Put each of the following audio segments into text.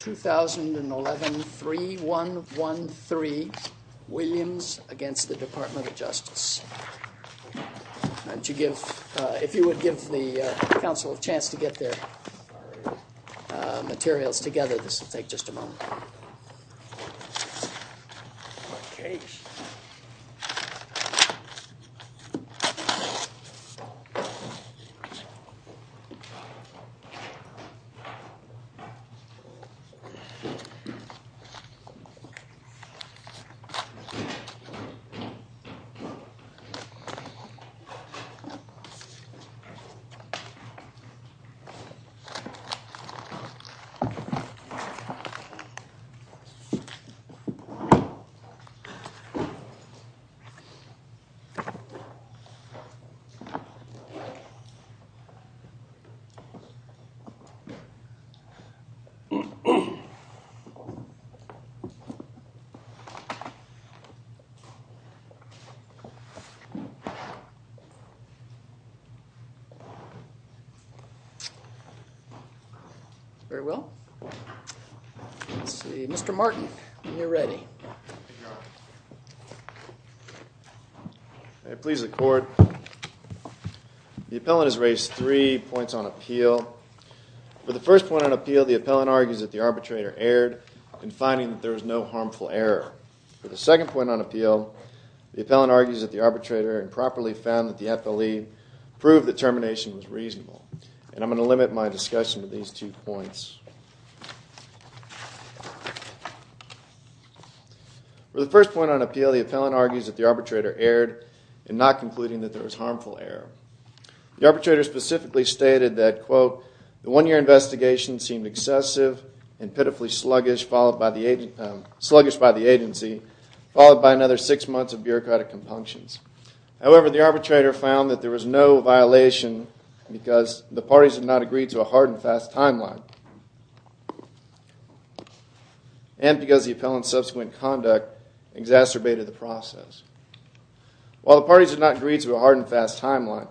2011 3 1 1 3 Williams against the Department of Justice and to give if you would give the council a chance to get their materials together this will take just a moment very well mr. Martin you're ready please the court the appellant has raised three points on appeal for the first point on appeal the appellant argues that the arbitrator erred and finding that there was no harmful error for the second point on appeal the appellant argues that the arbitrator and properly found that the FLE proved the termination was reasonable and I'm going to limit my discussion to these two points for the first point on appeal the appellant argues that the arbitrator erred and not concluding that there was harmful error the arbitrator specifically stated that quote the one-year investigation seemed excessive and pitifully sluggish followed by the sluggish by the agency followed by another six months of bureaucratic compunctions however the arbitrator found that there was no violation because the parties have not agreed to a hard and fast timeline and because the appellant subsequent conduct exacerbated the process while the parties are not agreed to a hard and fast timeline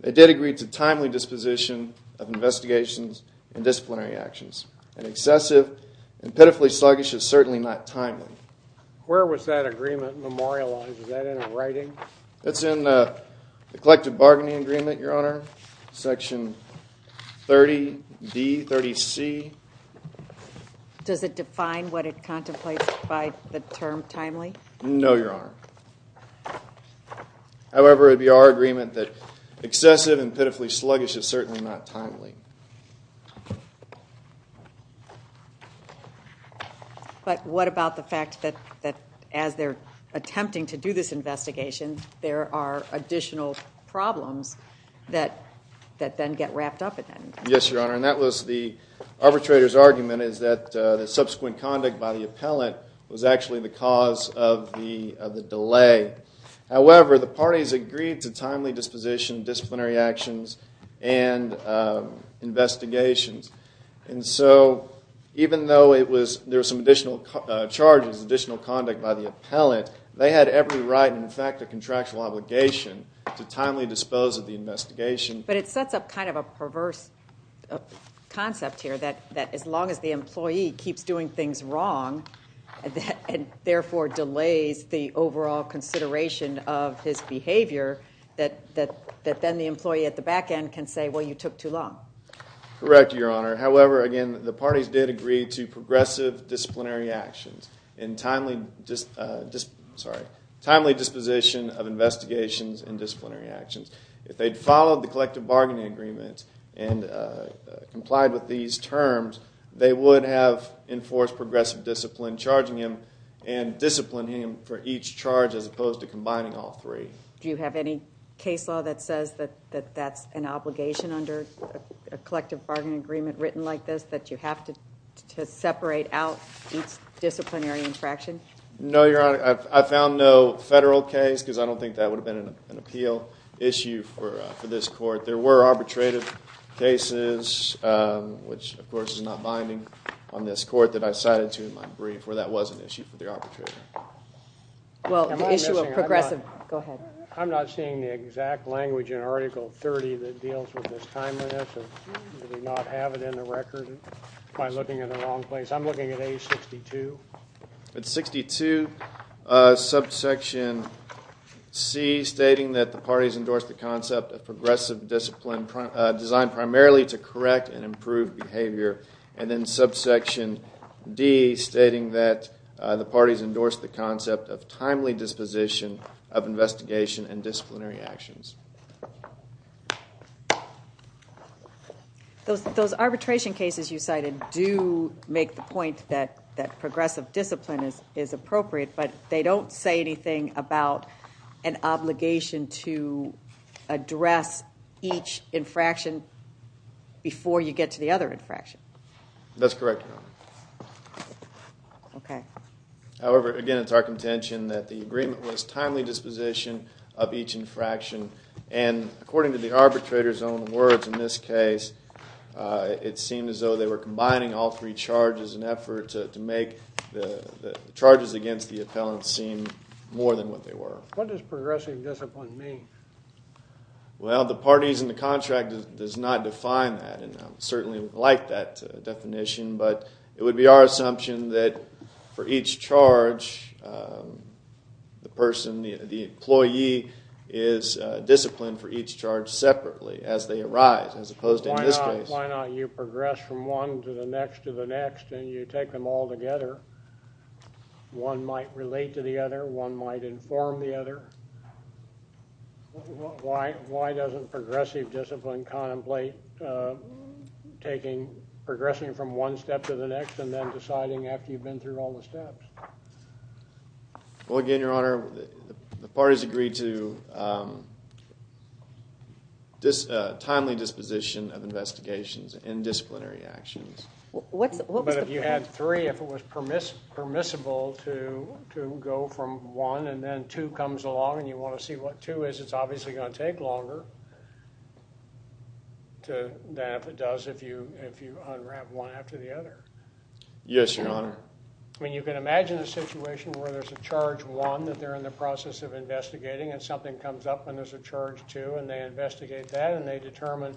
they did agree to timely disposition of investigations and disciplinary actions and excessive and pitifully sluggish is certainly not timely where was that agreement memorializes that in a writing that's in the collective bargaining agreement your honor section 30 D 30 C does it define what it contemplates by the term timely no your honor however it'd be our that excessive and pitifully sluggish is certainly not timely but what about the fact that that as they're attempting to do this investigation there are additional problems that that then get wrapped up in yes your honor and that was the arbitrators argument is that the subsequent conduct by the appellant was however the parties agreed to timely disposition disciplinary actions and investigations and so even though it was there was some additional charges additional conduct by the appellant they had every right in fact a contractual obligation to timely dispose of the investigation but it sets up kind of a perverse concept here that that as long as the employee keeps doing things wrong and therefore delays the overall consideration of his behavior that that that then the employee at the back end can say well you took too long correct your honor however again the parties did agree to progressive disciplinary actions in timely just just sorry timely disposition of investigations and disciplinary actions if they'd followed the collective bargaining agreement and complied with these terms they would have enforced progressive discipline charging him and discipline him for each charge as opposed to combining all three do you have any case law that says that that that's an obligation under a collective bargaining agreement written like this that you have to separate out each disciplinary infraction no your honor I found no federal case because I don't think that would have been an appeal issue for this court there were arbitrative cases which of course is not binding on this court that I cited to in my brief where that was an issue for the arbitrator well the issue of progressive go ahead I'm not seeing the exact language in article 30 that deals with this timeliness and did not have it in the record by looking at a wrong place I'm looking at age 62 it's 62 subsection C stating that the parties primarily to correct and improve behavior and then subsection D stating that the parties endorsed the concept of timely disposition of investigation and disciplinary actions those those arbitration cases you cited do make the point that that progressive discipline is is appropriate but they don't say about an obligation to address each infraction before you get to the other infraction that's correct okay however again it's our contention that the agreement was timely disposition of each infraction and according to the arbitrators own words in this case it seemed as though they were combining all as an effort to make the charges against the appellant seem more than what they were what does progressive discipline mean well the parties in the contract does not define that and certainly like that definition but it would be our assumption that for each charge the person the employee is disciplined for each charge separately as they arise as opposed to why not you progress from one to the next to the next and you take them all together one might relate to the other one might inform the other why why doesn't progressive discipline contemplate taking progressing from one step to the next and then deciding after you've been through all the steps well again your honor the parties agreed to this timely disposition of investigations and disciplinary actions what's what but if you had three if it was permissible permissible to to go from one and then two comes along and you want to see what two is it's obviously going to take longer to that if it does if you if you unwrap one after the other yes your honor I mean you can imagine a situation where there's a charge one that they're in the process of investigating and something comes up and there's a charge two and they investigate that and they determine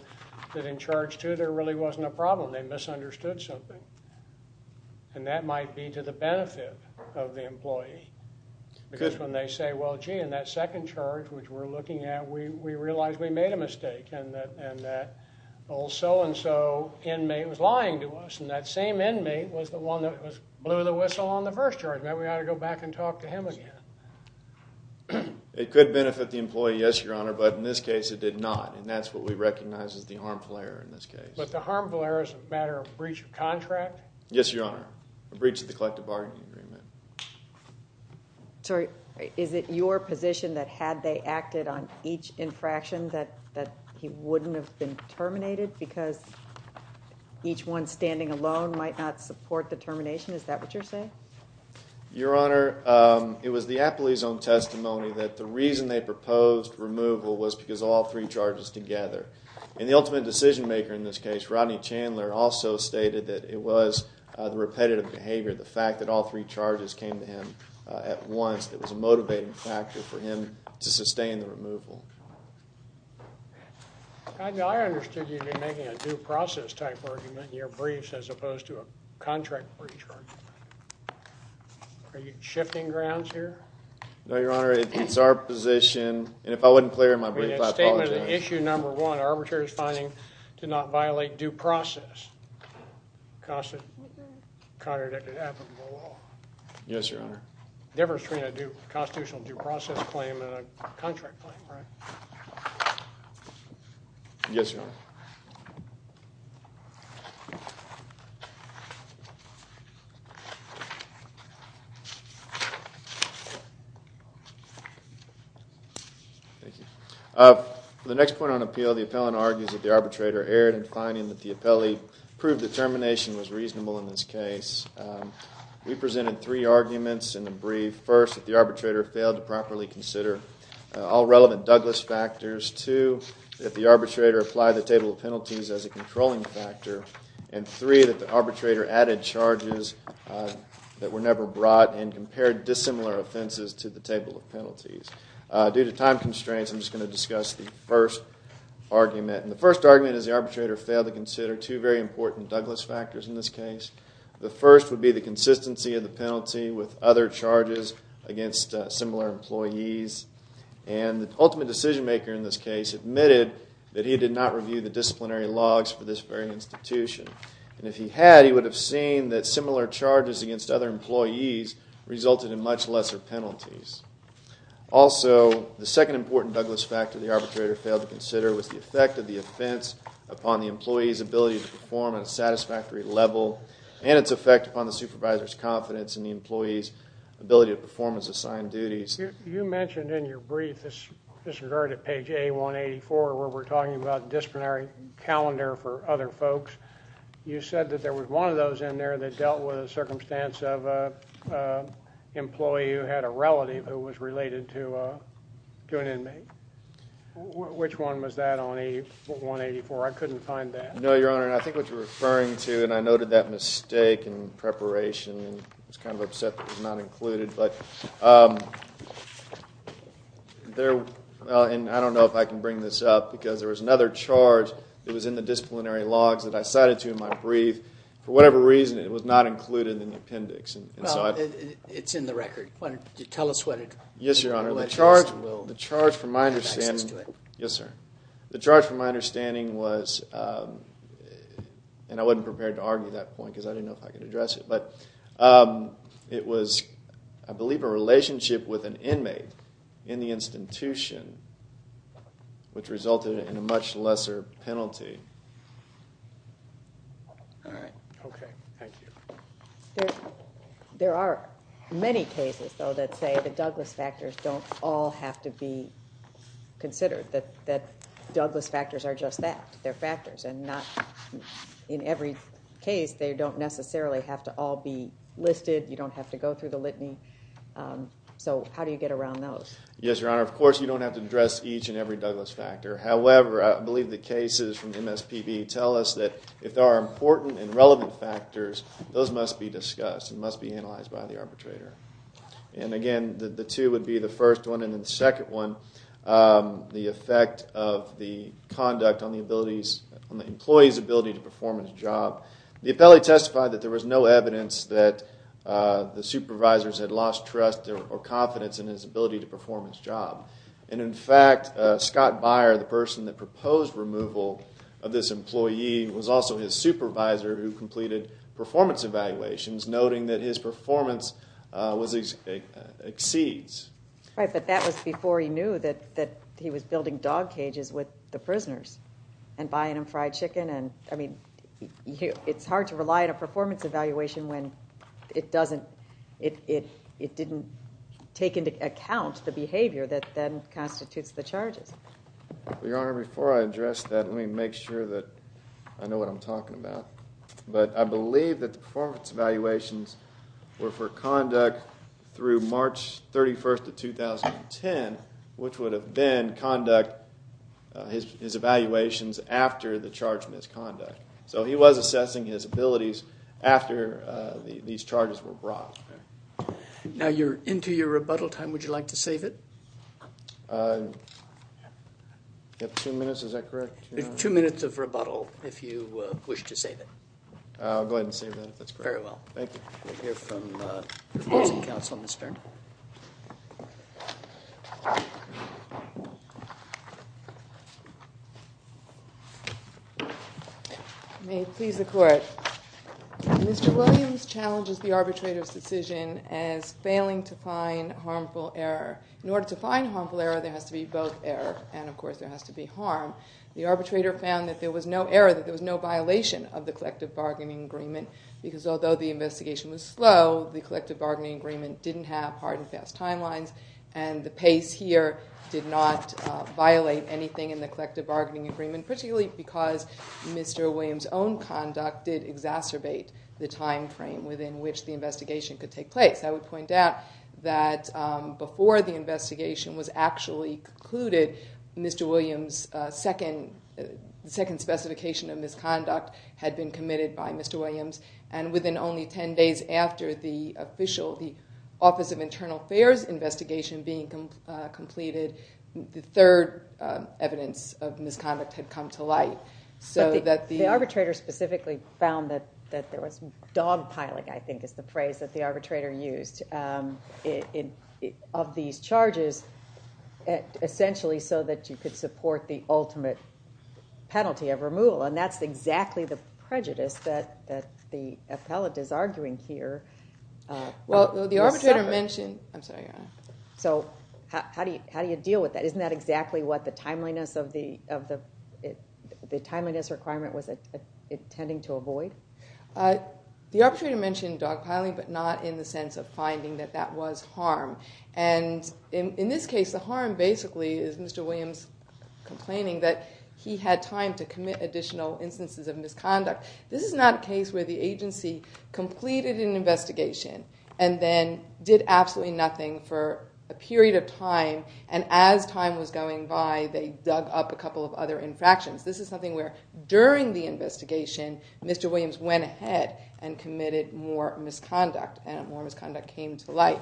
that in charge two there really wasn't a problem they misunderstood something and that might be to the benefit of the employee because when they say well gee in that second charge which we're looking at we realized we made a mistake and that and that old so-and-so inmate was lying to us and that same inmate was the one that was blew the whistle on the first charge man we ought to go back and the employee yes your honor but in this case it did not and that's what we recognize as the harmful error in this case but the harmful error is a matter of breach of contract yes your honor a breach of the collective bargaining agreement sorry is it your position that had they acted on each infraction that that he wouldn't have been terminated because each one standing alone might not support the termination is that what you're saying your honor it was the removal was because all three charges together in the ultimate decision-maker in this case Rodney Chandler also stated that it was the repetitive behavior the fact that all three charges came to him at once that was a motivating factor for him to sustain the removal I understood you'd be making a due process type argument in your briefs as opposed to a contract breach are you shifting grounds here no your honor it's our position and if I wouldn't clear in my brief statement issue number one arbitrators finding did not violate due process constant contradicted yes your honor never screen I do constitutional due process claim in a contract yes the next point on appeal the appellant argues that the arbitrator erred in finding that the appellee proved the termination was reasonable in this case we presented three arguments in the brief first if the arbitrator failed to properly consider all relevant Douglas factors to if the arbitrator applied the table of penalties as a controlling factor and three that the arbitrator added charges that were never brought and compared dissimilar offenses to the table of penalties due to time constraints I'm just going to discuss the first argument and the first argument is the arbitrator failed to consider two very important Douglas factors in this case the first would be the consistency of the penalty with other charges against similar employees and the ultimate decision-maker in this case admitted that he did not review the scene that similar charges against other employees resulted in much lesser penalties also the second important Douglas factor the arbitrator failed to consider was the effect of the offense upon the employees ability to perform a satisfactory level and its effect upon the supervisor's confidence in the employees ability of performance assigned duties you mentioned in your brief this disregard at page a 184 where we're talking about disciplinary calendar for other folks you said that there was one of those in there that dealt with a circumstance of employee who had a relative who was related to doing in me which one was that only 184 I couldn't find that no your honor and I think what you're referring to and I noted that mistake in preparation and it's kind of upset not included but there and I don't know if I can bring this up because there was another charge it was in the disciplinary logs that I cited to in my brief for whatever reason it was not included in the appendix and it's in the record what did you tell us what it yes your honor the charge well the charge from my understanding to it yes sir the charge from my understanding was and I wasn't prepared to argue that point because I didn't know if I could address it but it was I believe a relationship with an institution which resulted in a much lesser penalty there are many cases though that say the Douglas factors don't all have to be considered that that Douglas factors are just that they're factors and not in every case they don't necessarily have to all be listed you don't have to go through the of course you don't have to address each and every Douglas factor however I believe the cases from MSPB tell us that if there are important and relevant factors those must be discussed and must be analyzed by the arbitrator and again the two would be the first one and the second one the effect of the conduct on the abilities on the employees ability to perform in his job the appellee testified that there was no evidence that the supervisors had lost trust or confidence in his ability to perform his job and in fact Scott Byer the person that proposed removal of this employee was also his supervisor who completed performance evaluations noting that his performance was a exceeds right but that was before he knew that that he was building dog cages with the prisoners and buying him fried chicken and I mean you it's hard to rely on a doesn't it it didn't take into account the behavior that then constitutes the charges we are before I address that let me make sure that I know what I'm talking about but I believe that the performance evaluations were for conduct through March 31st of 2010 which would have been conduct his evaluations after the charge misconduct so he was assessing his abilities after these charges were brought now you're into your rebuttal time would you like to save it two minutes is that correct two minutes of rebuttal if you wish to save it I'll go ahead and say that that's very well thank you Mr. Williams challenges the arbitrators decision as failing to find harmful error in order to find harmful error there has to be both error and of course there has to be harm the arbitrator found that there was no error that there was no violation of the collective bargaining agreement because although the investigation was slow the collective bargaining agreement didn't have hard and fast timelines and the pace here did not violate anything in the collective bargaining agreement particularly because mr. Williams own conduct did exacerbate the time frame within which the investigation could take place I would point out that before the investigation was actually concluded mr. Williams second second specification of misconduct had been committed by mr. Williams only ten days after the official the Office of Internal Affairs investigation being completed the third evidence of misconduct had come to light so that the arbitrator specifically found that that there was dogpiling I think is the phrase that the arbitrator used in of these charges essentially so that you could support the ultimate penalty of removal and that's exactly the prejudice that that the appellate is arguing here well the arbitrator mentioned I'm sorry so how do you how do you deal with that isn't that exactly what the timeliness of the of the the timeliness requirement was it it tending to avoid the arbitrary dimension dogpiling but not in the sense of finding that that was harm and in this case the harm basically is mr. Williams complaining that he had time to commit additional instances of misconduct this is not a case where the agency completed an investigation and then did absolutely nothing for a period of time and as time was going by they dug up a couple of other infractions this is something where during the investigation mr. Williams went ahead and committed more misconduct and more misconduct came to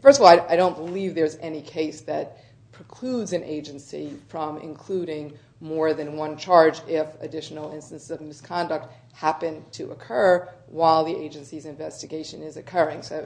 first of all I don't believe there's any case that precludes an agency from including more than one charge if additional instances of misconduct happened to occur while the agency's investigation is occurring so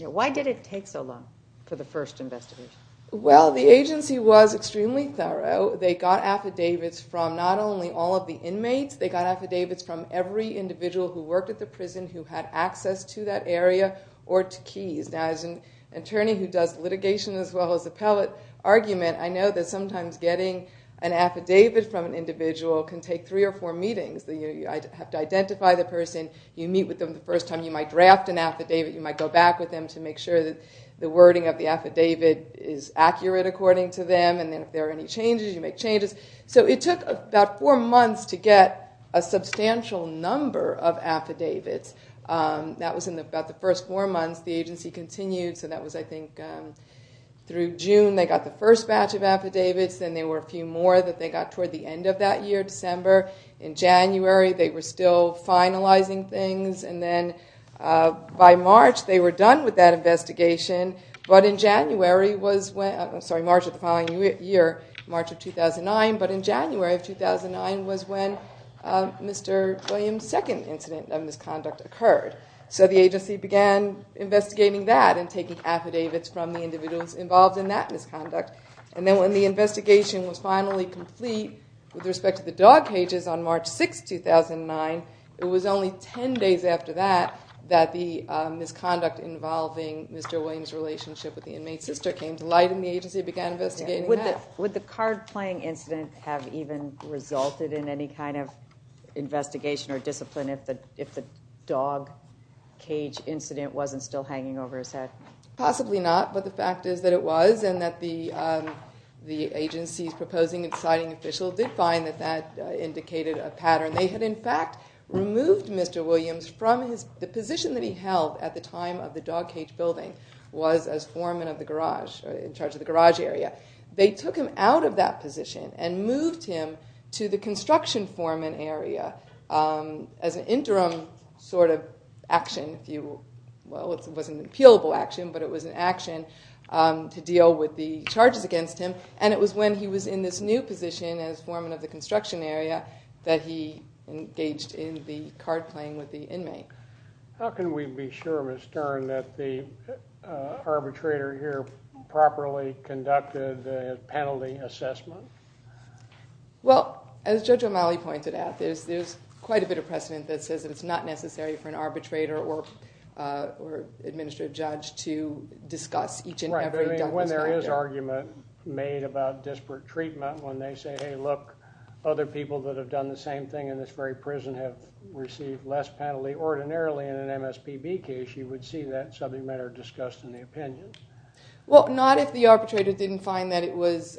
why did it take so long for the first investigation well the agency was extremely thorough they got affidavits from not only all of the inmates they got affidavits from every individual who worked at the prison who had access to that area or to as an attorney who does litigation as well as appellate argument I know that sometimes getting an affidavit from an individual can take three or four meetings that you have to identify the person you meet with them the first time you might draft an affidavit you might go back with them to make sure that the wording of the affidavit is accurate according to them and then if there are any changes you make changes so it took about four months to get a substantial number of affidavits that was in the first four months the agency continued so that was I think through June they got the first batch of affidavits then they were a few more that they got toward the end of that year December in January they were still finalizing things and then by March they were done with that investigation but in January was when I'm sorry March of the following year March of 2009 but in January of 2009 was when mr. Williams second incident of misconduct occurred so the agency began investigating that and taking affidavits from the individuals involved in that misconduct and then when the investigation was finally complete with respect to the dog cages on March 6 2009 it was only ten days after that that the misconduct involving mr. Williams relationship with the inmate sister came to light in the agency began investigating with it with the card playing incident have even resulted in any kind of investigation or discipline if the if the dog cage incident wasn't still hanging over his head possibly not but the fact is that it was and that the the agency's proposing and citing official did find that that indicated a pattern they had in fact removed mr. Williams from his position that he held at the time of the dog cage building was as foreman of the garage in charge of the garage area they took him out of that position and moved him to the construction foreman area as an interim sort of action if you well it wasn't an appealable action but it was an action to deal with the charges against him and it was when he was in this new position as foreman of the construction area that he engaged in the card playing with the inmate how can we be sure of his turn that the arbitrator here properly conducted a penalty assessment well as judge O'Malley pointed out there's there's quite a bit of precedent that says it's not necessary for an arbitrator or or administrative judge to discuss each and every time when there is argument made about disparate treatment when they say hey look other people that have done the same thing in this very prison have received less penalty ordinarily in an MSPB case you would see that subject matter discussed in the opinions well not if the arbitrator didn't find that it was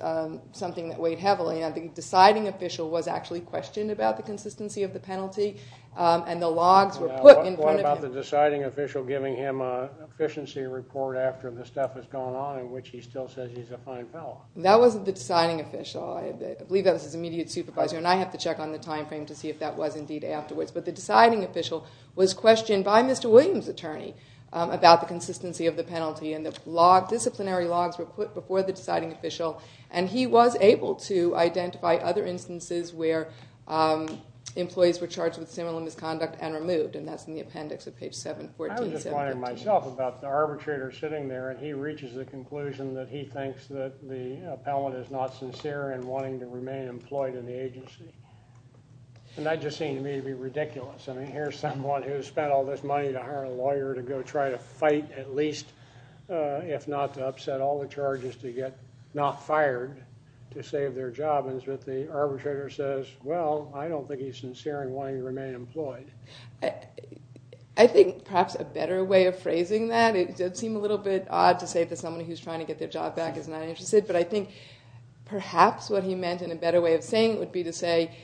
something that weight heavily on the deciding official was actually questioned about the consistency of the penalty and the logs were put in what about the deciding official giving him a efficiency report after the stuff has gone on in which he still says he's a fine fellow that wasn't the deciding official I believe that was his immediate supervisor and I have to check on the time frame to see if that was indeed afterwards but the deciding official was questioned by mr. Williams attorney about the consistency of the penalty and the log disciplinary logs were put before the deciding official and he was able to identify other instances where employees were charged with similar misconduct and removed and that's in the appendix of page 714. I was just wondering myself about the arbitrator sitting there and he reaches the conclusion that he thinks that the appellant is not sincere and wanting to remain employed in the agency and that just seemed to me to be ridiculous I mean here's someone who's spent all this upset all the charges to get not fired to save their job and as with the arbitrator says well I don't think he's sincere in wanting to remain employed. I think perhaps a better way of phrasing that it did seem a little bit odd to say that someone who's trying to get their job back is not interested but I think perhaps what he meant in a better way of saying it would be to say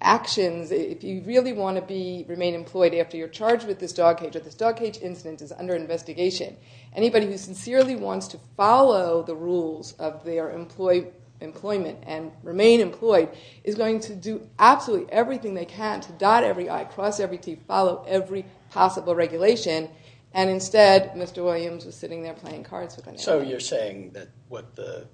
actions if you really want to be remain employed after you're charged with this dog cage or this dog cage incident is under investigation anybody who sincerely wants to follow the rules of their employment and remain employed is going to do absolutely everything they can to dot every I cross every T follow every possible regulation and instead Mr. Williams was sitting there playing cards with an appellant. So you're saying that what the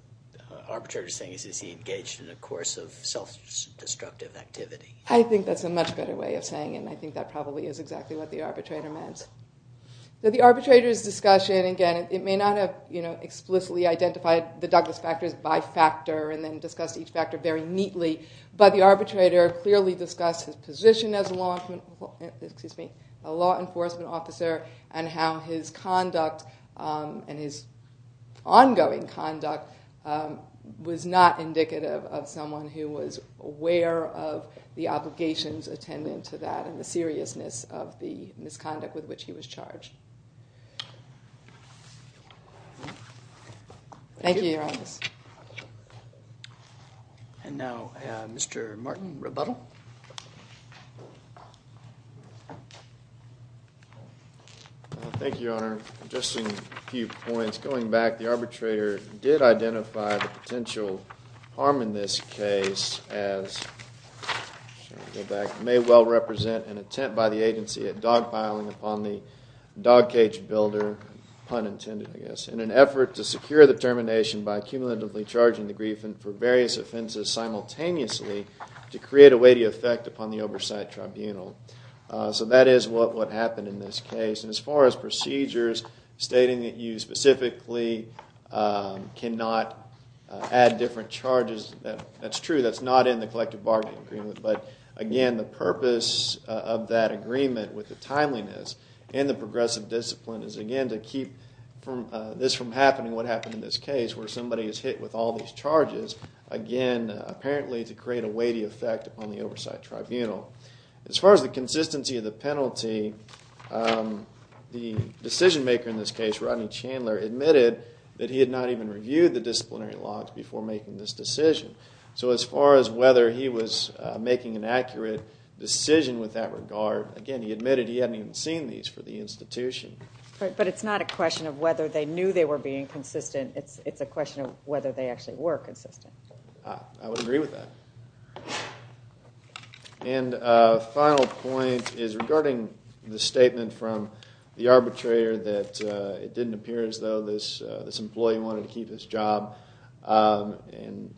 arbitrator is saying is he engaged in a course of self-destructive activity? I think that's a much better way of saying and I think that probably is exactly what the arbitrator meant. The arbitrator's discussion again it may not have you know explicitly identified the Douglas factors by factor and then discussed each factor very neatly but the arbitrator clearly discussed his position as a law enforcement officer and how his conduct and his ongoing conduct was not indicative of someone who was aware of the obligations attendant to that and the seriousness of the misconduct with which he was charged. Thank you. And now Mr. Martin Rebuttal. Thank you Your Honor. Just a few points going back the arbitrator did identify the potential harm in this case as may well represent an attempt by the agency at dogpiling upon the dog cage builder pun intended I guess in an effort to secure the termination by cumulatively charging the grief and for various offenses simultaneously to create a weighty effect upon the oversight tribunal. So that is what what happened in this case and as far as procedures stating that you specifically cannot add different charges that that's true that's not in the collective bargaining agreement but again the purpose of that agreement with the timeliness and the progressive discipline is again to keep from this from happening what happened in this case where somebody is hit with all these charges again apparently to create a weighty effect on the oversight tribunal. As far as the consistency of the penalty the decision maker in this case Rodney Chandler admitted that he had not even reviewed the disciplinary logs before making this decision. So as far as whether he was making an accurate decision with that regard again he admitted he hadn't even seen these for the institution. But it's not a question of whether they knew they were being consistent it's it's a question of whether they actually were consistent. I would agree with that. And final point is regarding the statement from the arbitrator that it didn't appear as this employee wanted to keep his job and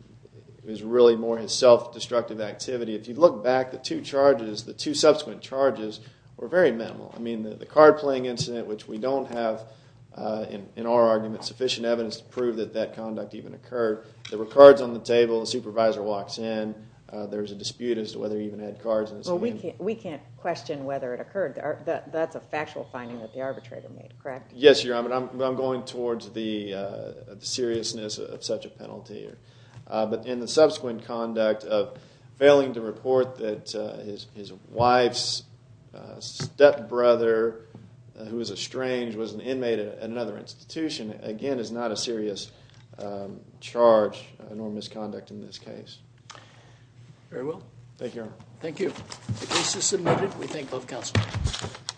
it was really more his self-destructive activity. If you look back the two charges the two subsequent charges were very minimal. I mean the card-playing incident which we don't have in our argument sufficient evidence to prove that that conduct even occurred. There were cards on the table the supervisor walks in there's a dispute as to whether he even had cards. Well we can't we can't question whether it occurred that's a factual finding that the arbitrator made correct? Yes your but I'm going towards the seriousness of such a penalty here. But in the subsequent conduct of failing to report that his wife's stepbrother who is a strange was an inmate at another institution again is not a serious charge nor misconduct in this case. Very well. Thank you. Thank you.